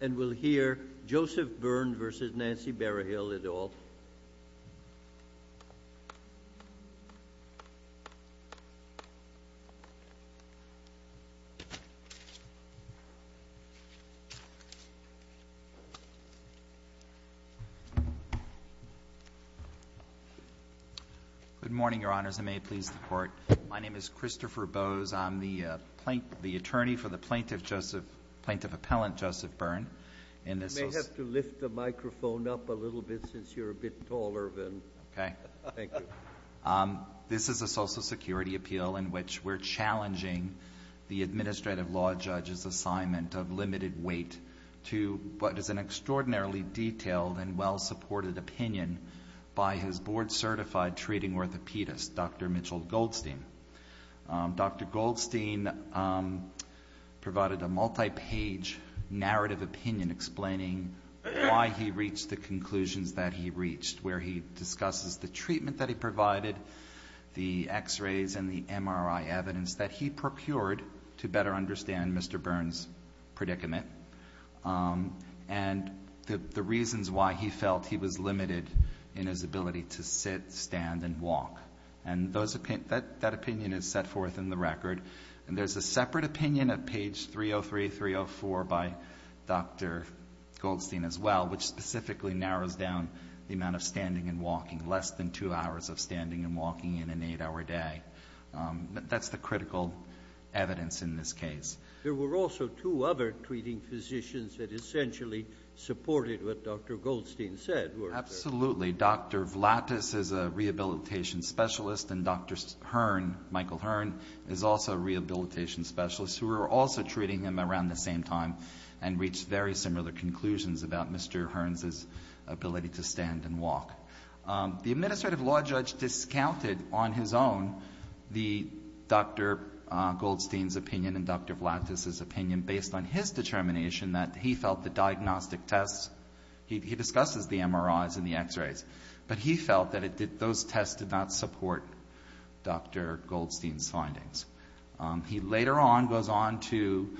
And we'll hear Joseph Byrne versus Nancy Barahill et al. Good morning, Your Honors. I may please the court. My name is Christopher Bowes. I'm the attorney for the Plaintiff Appellant Joseph Byrne. And this is a Social Security Appeal in which we're challenging the Administrative Law Judge's assignment of limited weight to what is an extraordinarily detailed and well-supported opinion by his board-certified treating orthopedist, Dr. Mitchell Goldstein. Dr. Goldstein provided a multi-page narrative opinion explaining why he reached the conclusions that he reached, where he discusses the treatment that he provided, the x-rays and the MRI evidence that he procured to better understand Mr. Byrne's predicament, and the reasons why he felt he was limited in his ability to sit, stand, and walk. And that opinion is set forth in the record. And there's a separate opinion at page 303, 304 by Dr. Goldstein as well, which specifically narrows down the amount of standing and walking, less than two hours of standing and walking in an eight-hour day. That's the critical evidence in this case. There were also two other treating physicians that essentially supported what Dr. Goldstein said. Absolutely. Dr. Vlatis is a rehabilitation specialist, and Dr. Hearn, Michael Hearn, is also a rehabilitation specialist who were also treating him around the same time and reached very similar conclusions about Mr. Hearn's ability to stand and walk. The administrative law judge discounted on his own the Dr. Goldstein's opinion and Dr. Vlatis's opinion based on his determination that he felt the diagnostic tests, he discusses the MRIs and the x-rays, but he felt that those tests did not support Dr. Goldstein's findings. He later on goes on to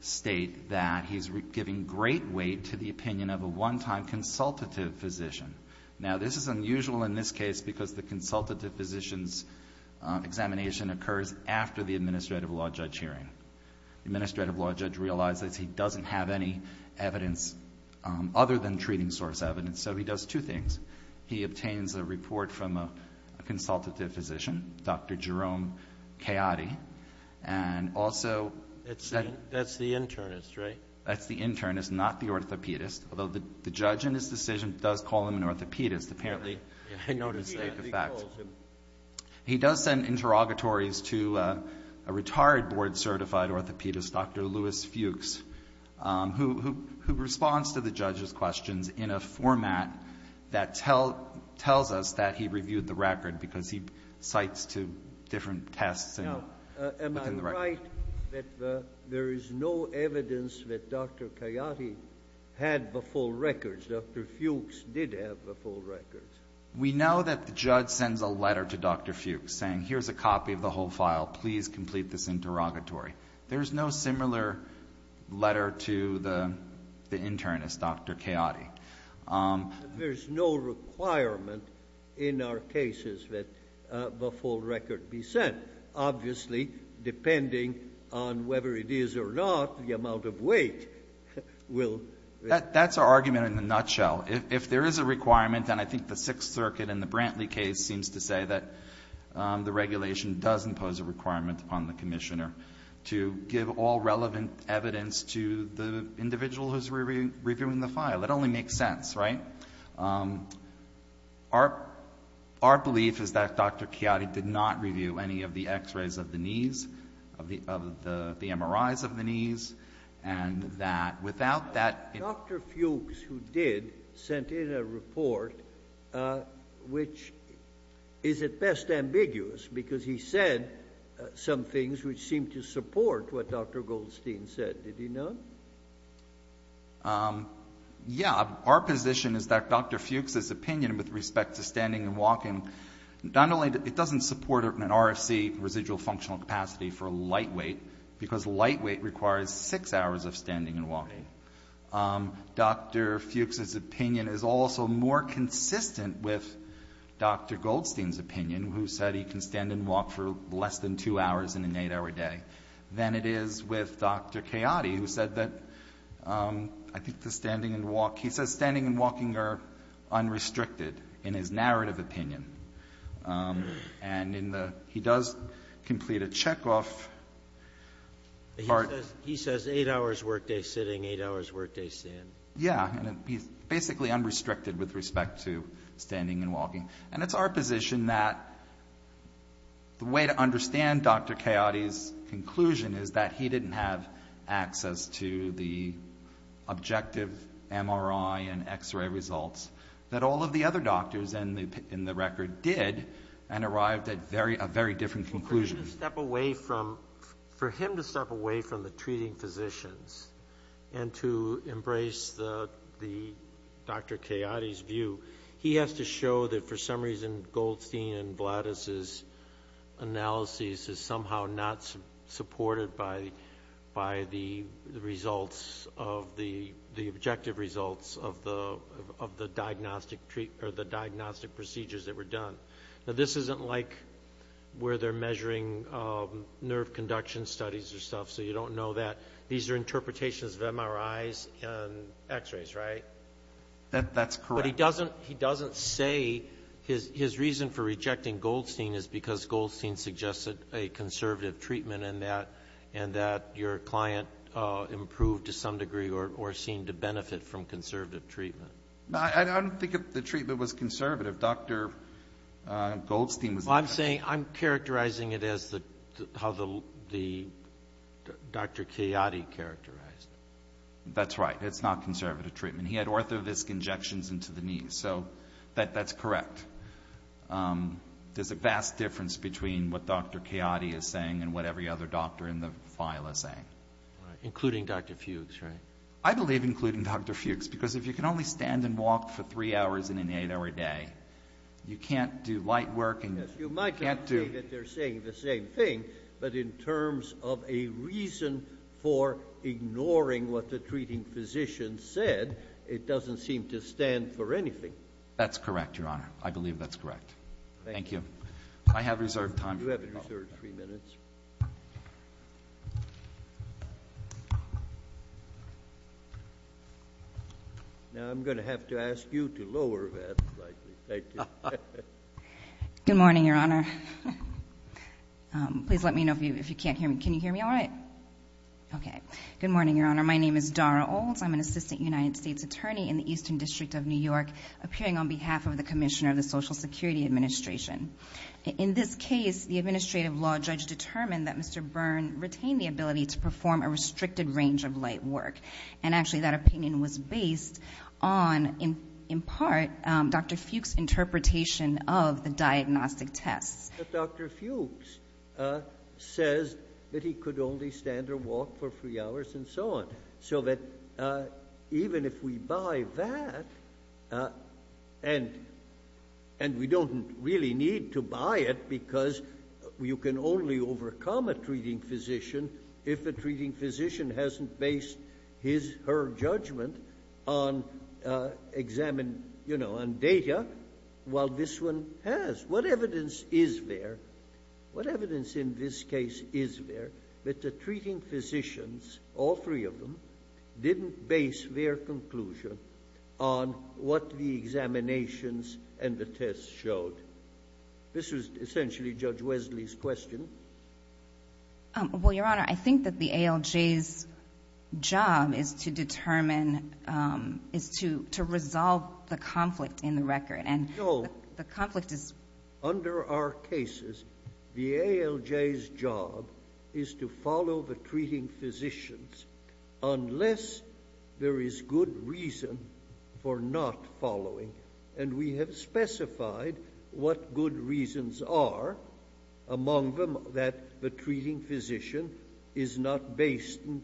state that he's giving great weight to the opinion of a one-time consultative physician. Now this is unusual in this case because the consultative physician's examination occurs after the administrative law judge hearing. The administrative law judge realizes he doesn't have any evidence other than treating source evidence. So he does two things. He obtains a report from a consultative physician, Dr. Jerome Chiotti, and also... That's the internist, right? That's the internist, not the orthopedist, although the judge in his decision does call him an orthopedist. Apparently, he noticed that. He does send interrogatories to a retired board-certified orthopedist, Dr. Louis Fuchs, who responds to the judge's questions in a format that tells us that he reviewed the record because he cites two different tests within the record. Am I right that there is no evidence that Dr. Chiotti had the full records, Dr. Fuchs did have the full records? We know that the judge sends a letter to Dr. Fuchs saying, here's a copy of the whole file. Please complete this interrogatory. There's no similar letter to the internist, Dr. Chiotti. There's no requirement in our cases that the full record be sent. Obviously, depending on whether it is or not, the amount of weight will... That's our argument in a nutshell. If there is a requirement, and I think the Sixth Circuit in the Brantley case seems to give all relevant evidence to the individual who's reviewing the file. It only makes sense, right? Our belief is that Dr. Chiotti did not review any of the X-rays of the knees, of the MRIs of the knees, and that without that... Dr. Fuchs, who did, sent in a report which is at best ambiguous because he said some of it doesn't support what Dr. Goldstein said, did he not? Yeah. Our position is that Dr. Fuchs' opinion with respect to standing and walking, not only that it doesn't support an RFC, residual functional capacity, for lightweight, because lightweight requires six hours of standing and walking, Dr. Fuchs' opinion is also more consistent with Dr. Goldstein's opinion, who said he can stand and walk for less than two hours in an eight-hour day, than it is with Dr. Chiotti, who said that, I think the standing and walk, he says standing and walking are unrestricted in his narrative opinion. And in the, he does complete a checkoff part... He says eight hours workday sitting, eight hours workday stand. Yeah. And he's basically unrestricted with respect to standing and walking. And it's our position that the way to understand Dr. Chiotti's conclusion is that he didn't have access to the objective MRI and X-ray results that all of the other doctors in the record did and arrived at a very different conclusion. For him to step away from the treating physicians and to embrace the Dr. Chiotti's view, he has to show that for some reason Goldstein and Vladis' analysis is somehow not supported by the results of the, the objective results of the diagnostic procedures that were done. This isn't like where they're measuring nerve conduction studies or stuff, so you don't know that. These are interpretations of MRIs and X-rays, right? That's correct. But he doesn't, he doesn't say his, his reason for rejecting Goldstein is because Goldstein suggested a conservative treatment and that, and that your client improved to some degree or, or seemed to benefit from conservative treatment. I don't think the treatment was conservative, Dr. Goldstein was... I'm saying, I'm characterizing it as the, how the, the Dr. Chiotti characterized. That's right. It's not conservative treatment. And he had ortho-visc injections into the knee, so that, that's correct. There's a vast difference between what Dr. Chiotti is saying and what every other doctor in the file is saying. Including Dr. Fuchs, right? I believe including Dr. Fuchs, because if you can only stand and walk for three hours in an eight hour day, you can't do light work and you can't do... You might not say that they're saying the same thing, but in terms of a reason for ignoring what the treating physician said, it doesn't seem to stand for anything. That's correct, Your Honor. I believe that's correct. Thank you. I have reserved time for... You have reserved three minutes. Now I'm going to have to ask you to lower that slightly. Thank you. Good morning, Your Honor. Please let me know if you, if you can't hear me. Can you hear me all right? Okay. Good morning, Your Honor. My name is Dara Olds. I'm an assistant United States attorney in the Eastern District of New York, appearing on behalf of the commissioner of the Social Security Administration. In this case, the administrative law judge determined that Mr. Byrne retained the ability to perform a restricted range of light work. And actually that opinion was based on, in part, Dr. Fuchs' interpretation of the diagnostic tests. Dr. Fuchs says that he could only stand or walk for three hours and so on. So that even if we buy that, and we don't really need to buy it because you can only overcome a treating physician if the treating physician hasn't based his, her judgment on examine, you know, on data, while this one has. What evidence is there, what evidence in this case is there that the treating physicians, all three of them, didn't base their conclusion on what the examinations and the tests showed? This was essentially Judge Wesley's question. Well, Your Honor, I think that the ALJ's job is to determine, is to, to resolve the conflict in the record. No. The conflict is... Under our cases, the ALJ's job is to follow the treating physicians unless there is good reason for not following. And we have specified what good reasons are, among them that the treating physician is not based in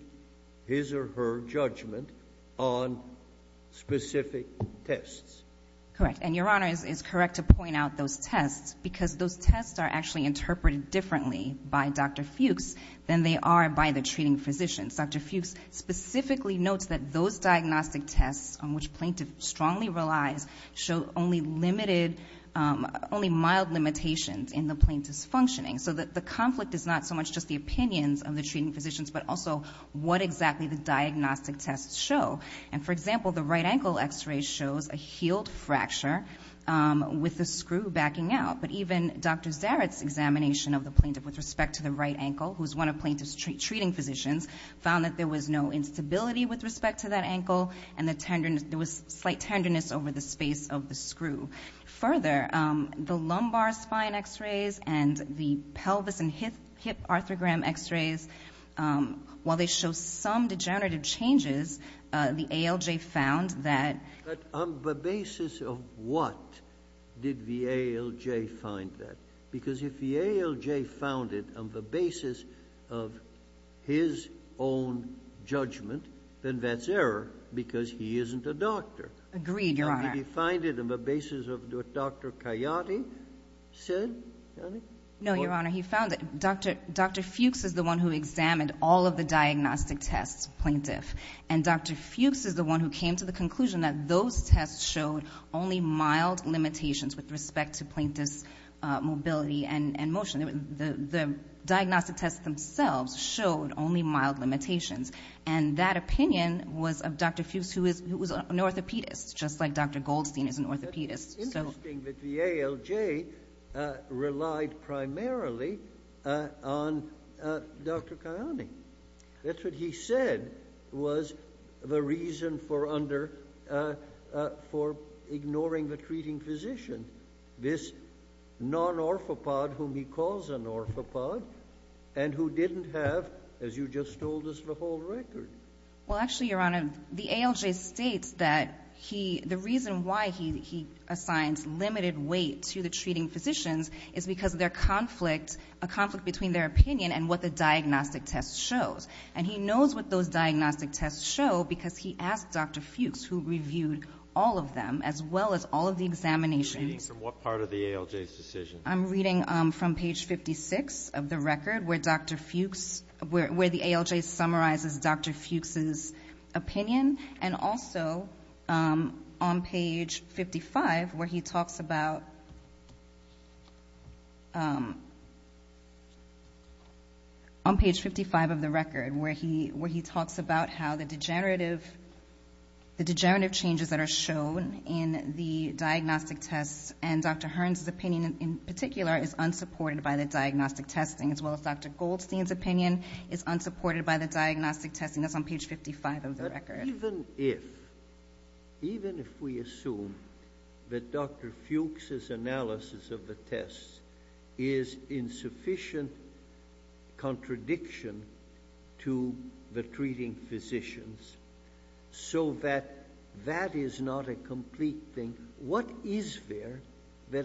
his or her judgment on specific tests. Correct. Correct. And Your Honor is, is correct to point out those tests because those tests are actually interpreted differently by Dr. Fuchs than they are by the treating physicians. Dr. Fuchs specifically notes that those diagnostic tests on which plaintiff strongly relies show only limited, only mild limitations in the plaintiff's functioning. So that the conflict is not so much just the opinions of the treating physicians, but also what exactly the diagnostic tests show. And for example, the right ankle x-ray shows a healed fracture with the screw backing out. But even Dr. Zaret's examination of the plaintiff with respect to the right ankle, who's one of plaintiff's treating physicians, found that there was no instability with respect to that ankle and the tenderness, there was slight tenderness over the space of the screw. Further, the lumbar spine x-rays and the pelvis and hip, hip arthrogram x-rays, while they show some degenerative changes, uh, the ALJ found that... But on the basis of what did the ALJ find that? Because if the ALJ found it on the basis of his own judgment, then that's error because he isn't a doctor. Agreed, Your Honor. Now, did he find it on the basis of what Dr. Coyote said? No, Your Honor. He found it. Dr. Fuchs is the one who examined all of the diagnostic tests, plaintiff. And Dr. Fuchs is the one who came to the conclusion that those tests showed only mild limitations with respect to plaintiff's mobility and motion. The diagnostic tests themselves showed only mild limitations. And that opinion was of Dr. Fuchs, who was an orthopedist, just like Dr. Goldstein is an orthopedist. It's interesting that the ALJ, uh, relied primarily, uh, on, uh, Dr. Coyote. That's what he said was the reason for under, uh, uh, for ignoring the treating physician, this non-orthopod whom he calls an orthopod, and who didn't have, as you just told us, the whole record. Well, actually, Your Honor, the ALJ states that he, the reason why he, he assigns limited weight to the treating physicians is because of their conflict, a conflict between their opinion and what the diagnostic test shows. And he knows what those diagnostic tests show because he asked Dr. Fuchs, who reviewed all of them, as well as all of the examinations. Are you reading from what part of the ALJ's decision? I'm reading, um, from page 56 of the record, where Dr. Fuchs, where, where the ALJ summarizes Dr. Fuchs's opinion, and also, um, on page 55, where he talks about, um, on page 55 of the record, where he, where he talks about how the degenerative, the degenerative changes that are shown in the diagnostic tests, and Dr. Hearn's opinion in particular is unsupported by the diagnostic testing, as well as Dr. Goldstein's opinion is unsupported by the diagnostic testing. That's on page 55 of the record. But even if, even if we assume that Dr. Fuchs's analysis of the tests is in sufficient contradiction to the treating physicians, so that, that is not a complete thing, what is there that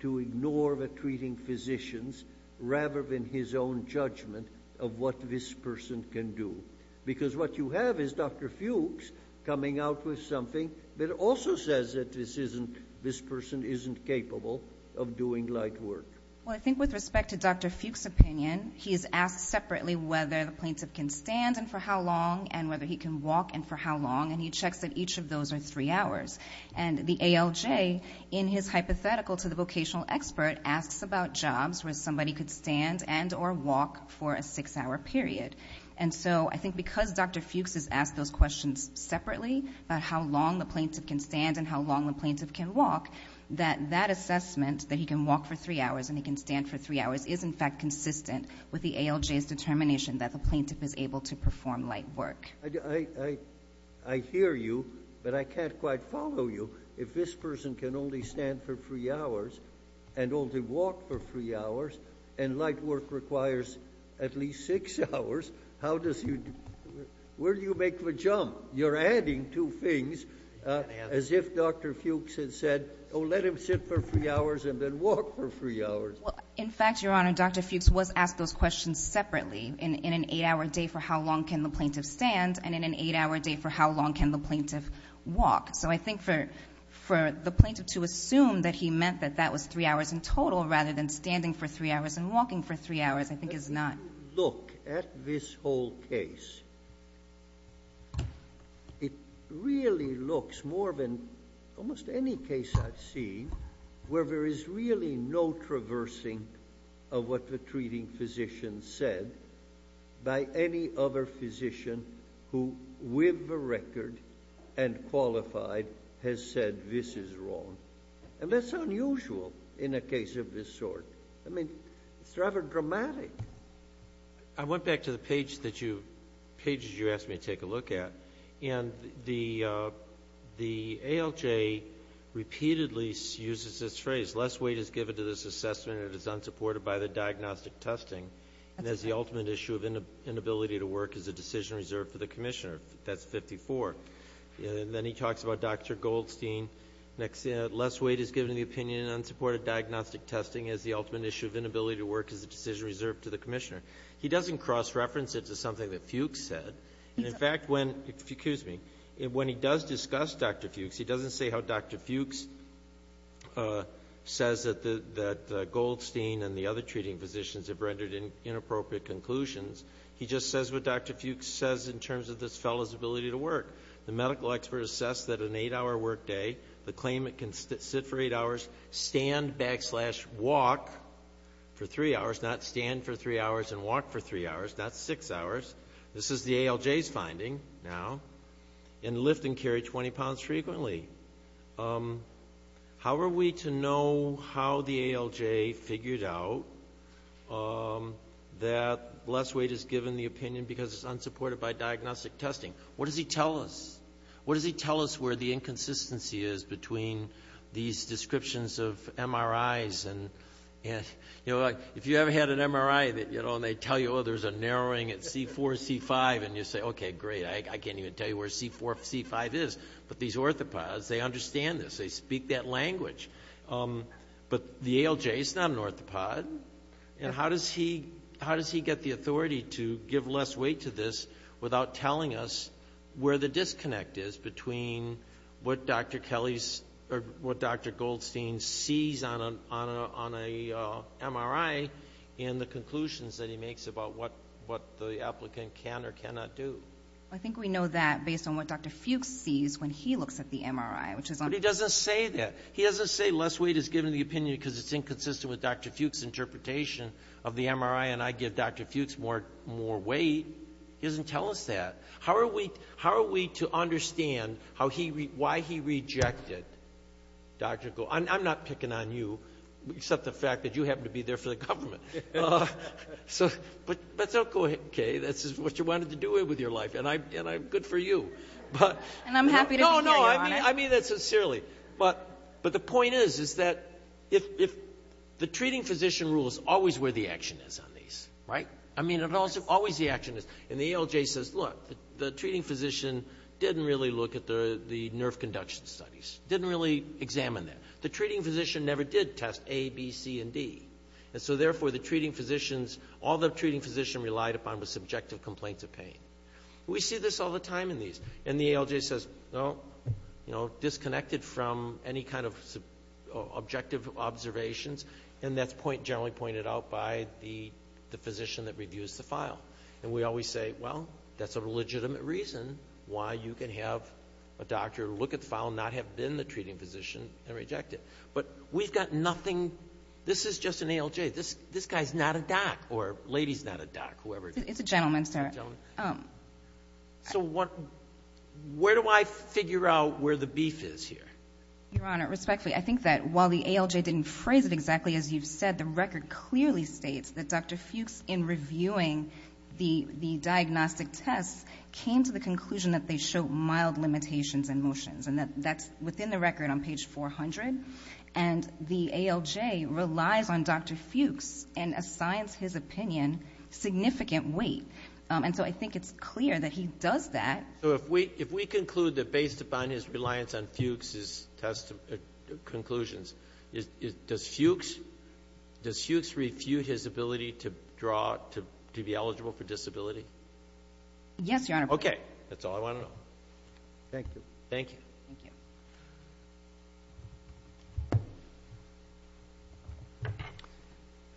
to ignore the treating physicians, rather than his own judgment of what this person can do? Because what you have is Dr. Fuchs coming out with something that also says that this isn't, this person isn't capable of doing light work. Well, I think with respect to Dr. Fuchs's opinion, he is asked separately whether the plaintiff can stand, and for how long, and whether he can walk, and for how long, and he checks that each of those are three hours. And the ALJ, in his hypothetical to the vocational expert, asks about jobs where somebody could stand and or walk for a six-hour period. And so, I think because Dr. Fuchs has asked those questions separately, about how long the plaintiff can stand and how long the plaintiff can walk, that that assessment, that he can walk for three hours and he can stand for three hours, is in fact consistent with the ALJ's determination that the plaintiff is able to perform light work. I hear you, but I can't quite follow you. If this person can only stand for three hours and only walk for three hours, and light work requires at least six hours, how does he, where do you make the jump? You're adding two things, as if Dr. Fuchs had said, oh, let him sit for three hours and then walk for three hours. Well, in fact, Your Honor, Dr. Fuchs was asked those questions separately in an eight-hour day for how long can the plaintiff stand, and in an eight-hour day for how long can the plaintiff walk. So, I think for the plaintiff to assume that he meant that that was three hours in total rather than standing for three hours and walking for three hours, I think is not. If you look at this whole case, it really looks more than almost any case I've seen where there is really no traversing of what the treating physician said by any other physician who, with the record and qualified, has said this is wrong, and that's unusual in a case of this sort. I mean, it's rather dramatic. I went back to the page that you, pages you asked me to take a look at, and the ALJ repeatedly uses this phrase, less weight is given to this assessment and it is unsupported by the diagnostic testing, and as the ultimate issue of inability to work is a decision reserved for the commissioner. That's 54. And then he talks about Dr. Goldstein, less weight is given to the opinion and unsupported diagnostic testing as the ultimate issue of inability to work is a decision reserved to the commissioner. He doesn't cross-reference it to something that Fuchs said, and in fact, when he does discuss Dr. Fuchs, he doesn't say how Dr. Fuchs says that Goldstein and the other treating physicians have rendered inappropriate conclusions. He just says what Dr. Fuchs says in terms of this fellow's ability to work. The medical expert assessed that an eight-hour workday, the claimant can sit for eight hours, stand, backslash, walk for three hours, not stand for three hours and walk for three hours, not six hours, this is the ALJ's finding now, and lift and carry 20 pounds frequently. How are we to know how the ALJ figured out that less weight is given the opinion because it's unsupported by diagnostic testing? What does he tell us? What does he tell us where the inconsistency is between these descriptions of MRIs and if you ever had an MRI and they tell you, oh, there's a narrowing at C4, C5, and you say, okay, great, I can't even tell you where C4, C5 is, but these orthopods, they understand this, they speak that language, but the ALJ is not an orthopod, and how does he get the between what Dr. Goldstein sees on an MRI and the conclusions that he makes about what the applicant can or cannot do? I think we know that based on what Dr. Fuchs sees when he looks at the MRI, which is on But he doesn't say that. He doesn't say less weight is given the opinion because it's inconsistent with Dr. Fuchs' interpretation of the MRI, and I give Dr. Fuchs more weight, he doesn't tell us that. How are we to understand why he rejected Dr. Goldstein? I'm not picking on you, except the fact that you happen to be there for the government, so but don't go, okay, that's just what you wanted to do with your life, and I'm good for you. And I'm happy to hear you on it. No, no, I mean that sincerely, but the point is is that if the treating physician rule is always where the action is on these, right? I mean, always the action is, and the ALJ says, look, the treating physician didn't really look at the nerve conduction studies, didn't really examine that. The treating physician never did test A, B, C, and D, and so therefore the treating physicians, all the treating physician relied upon was subjective complaints of pain. We see this all the time in these, and the ALJ says, no, you know, disconnected from any kind of objective observations, and that's generally pointed out by the physician that reviews the file, and we always say, well, that's a legitimate reason why you can have a doctor look at the file and not have been the treating physician and reject it. But we've got nothing, this is just an ALJ. This guy's not a doc, or lady's not a doc, whoever. It's a gentleman, sir. So what, where do I figure out where the beef is here? Your Honor, respectfully, I think that while the ALJ didn't phrase it exactly as you've said, the record clearly states that Dr. Fuchs, in reviewing the diagnostic tests, came to the conclusion that they show mild limitations in motions, and that's within the record on page 400. And the ALJ relies on Dr. Fuchs and assigns his opinion significant weight. And so I think it's clear that he does that. So if we conclude that based upon his reliance on Fuchs's conclusions, does Fuchs refute his ability to draw, to be eligible for disability? Yes, Your Honor. Okay, that's all I want to know. Thank you. Thank you. Thank you.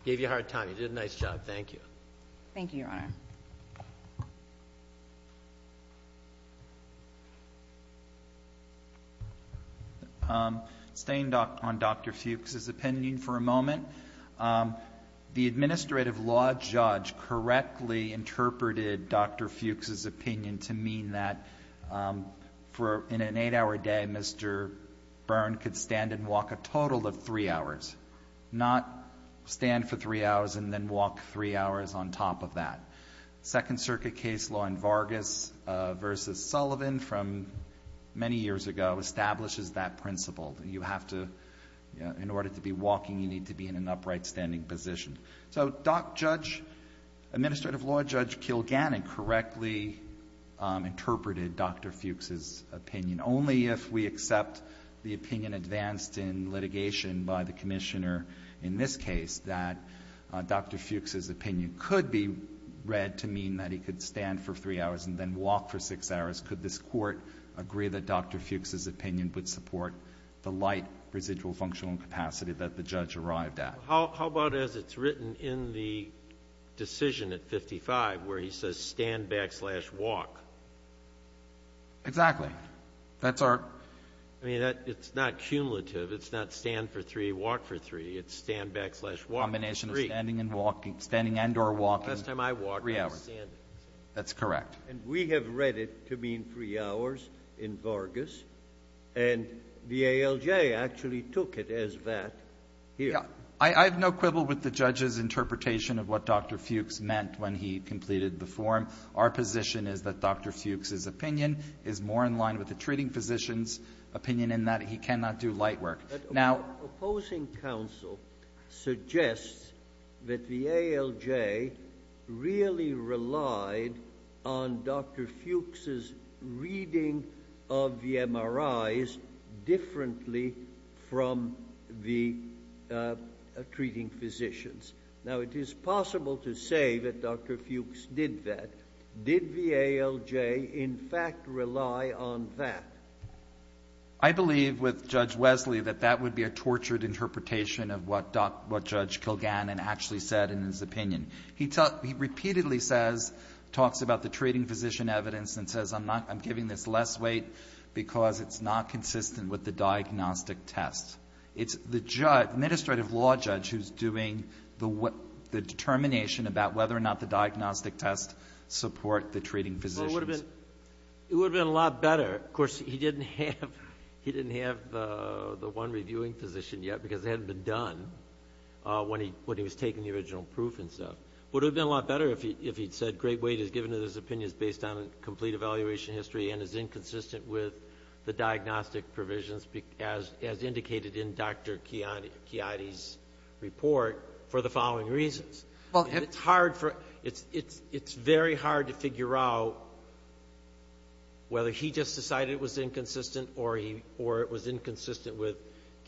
Gave you a hard time, you did a nice job, thank you. Thank you, Your Honor. Staying on Dr. Fuchs's opinion for a moment, the administrative law judge correctly interpreted Dr. Fuchs's opinion to mean that in an eight-hour day, Mr. Byrne could stand and walk a total of three hours, not stand for three hours and then walk three hours on top of that. Second Circuit case law in Vargas v. Sullivan from many years ago establishes that principle. You have to, in order to be walking, you need to be in an upright standing position. So doc judge, administrative law judge Kilgannon correctly interpreted Dr. Fuchs's opinion. And only if we accept the opinion advanced in litigation by the commissioner in this case that Dr. Fuchs's opinion could be read to mean that he could stand for three hours and then walk for six hours. Could this Court agree that Dr. Fuchs's opinion would support the light residual functional incapacity that the judge arrived at? How about as it's written in the decision at 55, where he says stand backslash walk? Exactly. That's our — I mean, it's not cumulative. It's not stand for three, walk for three. It's stand backslash walk for three. The combination of standing and walking. Standing and or walking. The last time I walked, I was standing. Three hours. That's correct. And we have read it to mean three hours in Vargas, and the ALJ actually took it as that here. Yeah. I have no quibble with the judge's interpretation of what Dr. Fuchs meant when he completed the forum. Our position is that Dr. Fuchs's opinion is more in line with the treating physician's opinion in that he cannot do light work. But our opposing counsel suggests that the ALJ really relied on Dr. Fuchs's reading of the MRIs differently from the treating physicians. Now, it is possible to say that Dr. Fuchs did that. Did the ALJ in fact rely on that? I believe with Judge Wesley that that would be a tortured interpretation of what Judge Kilgannon actually said in his opinion. He repeatedly says — talks about the treating physician evidence and says I'm not — I'm giving this less weight because it's not consistent with the diagnostic test. It's the judge, administrative law judge, who's doing the determination about whether or not the diagnostic test support the treating physicians. Well, it would have been a lot better. Of course, he didn't have the one reviewing physician yet because it hadn't been done when he was taking the original proof and stuff. It would have been a lot better if he'd said great weight is given to those opinions based on a complete evaluation history and is inconsistent with the diagnostic provisions as indicated in Dr. Chiodi's report for the following reasons. It's hard for — it's very hard to figure out whether he just decided it was inconsistent or it was inconsistent with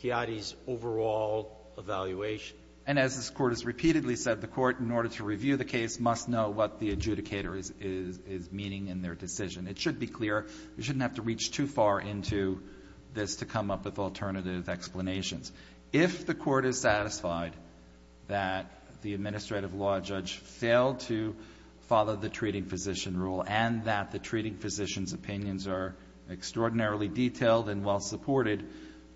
Chiodi's overall evaluation. And as this Court has repeatedly said, the Court, in order to review the case, must know what the adjudicator is meaning in their decision. It should be clear. You shouldn't have to reach too far into this to come up with alternative explanations. If the Court is satisfied that the administrative law judge failed to follow the treating physician rule and that the treating physician's opinions are extraordinarily detailed and well-supported,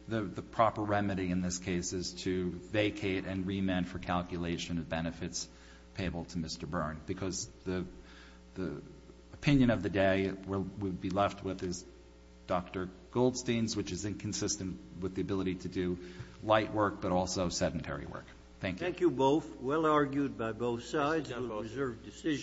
the proper remedy in this case is to vacate and remand for calculation of benefits payable to Mr. Byrne because the opinion of the day we'd be left with is Dr. Goldstein's, which is inconsistent with the ability to do light work but also sedentary work. Thank you. Thank you both. Well argued by both sides. It was a reserved decision.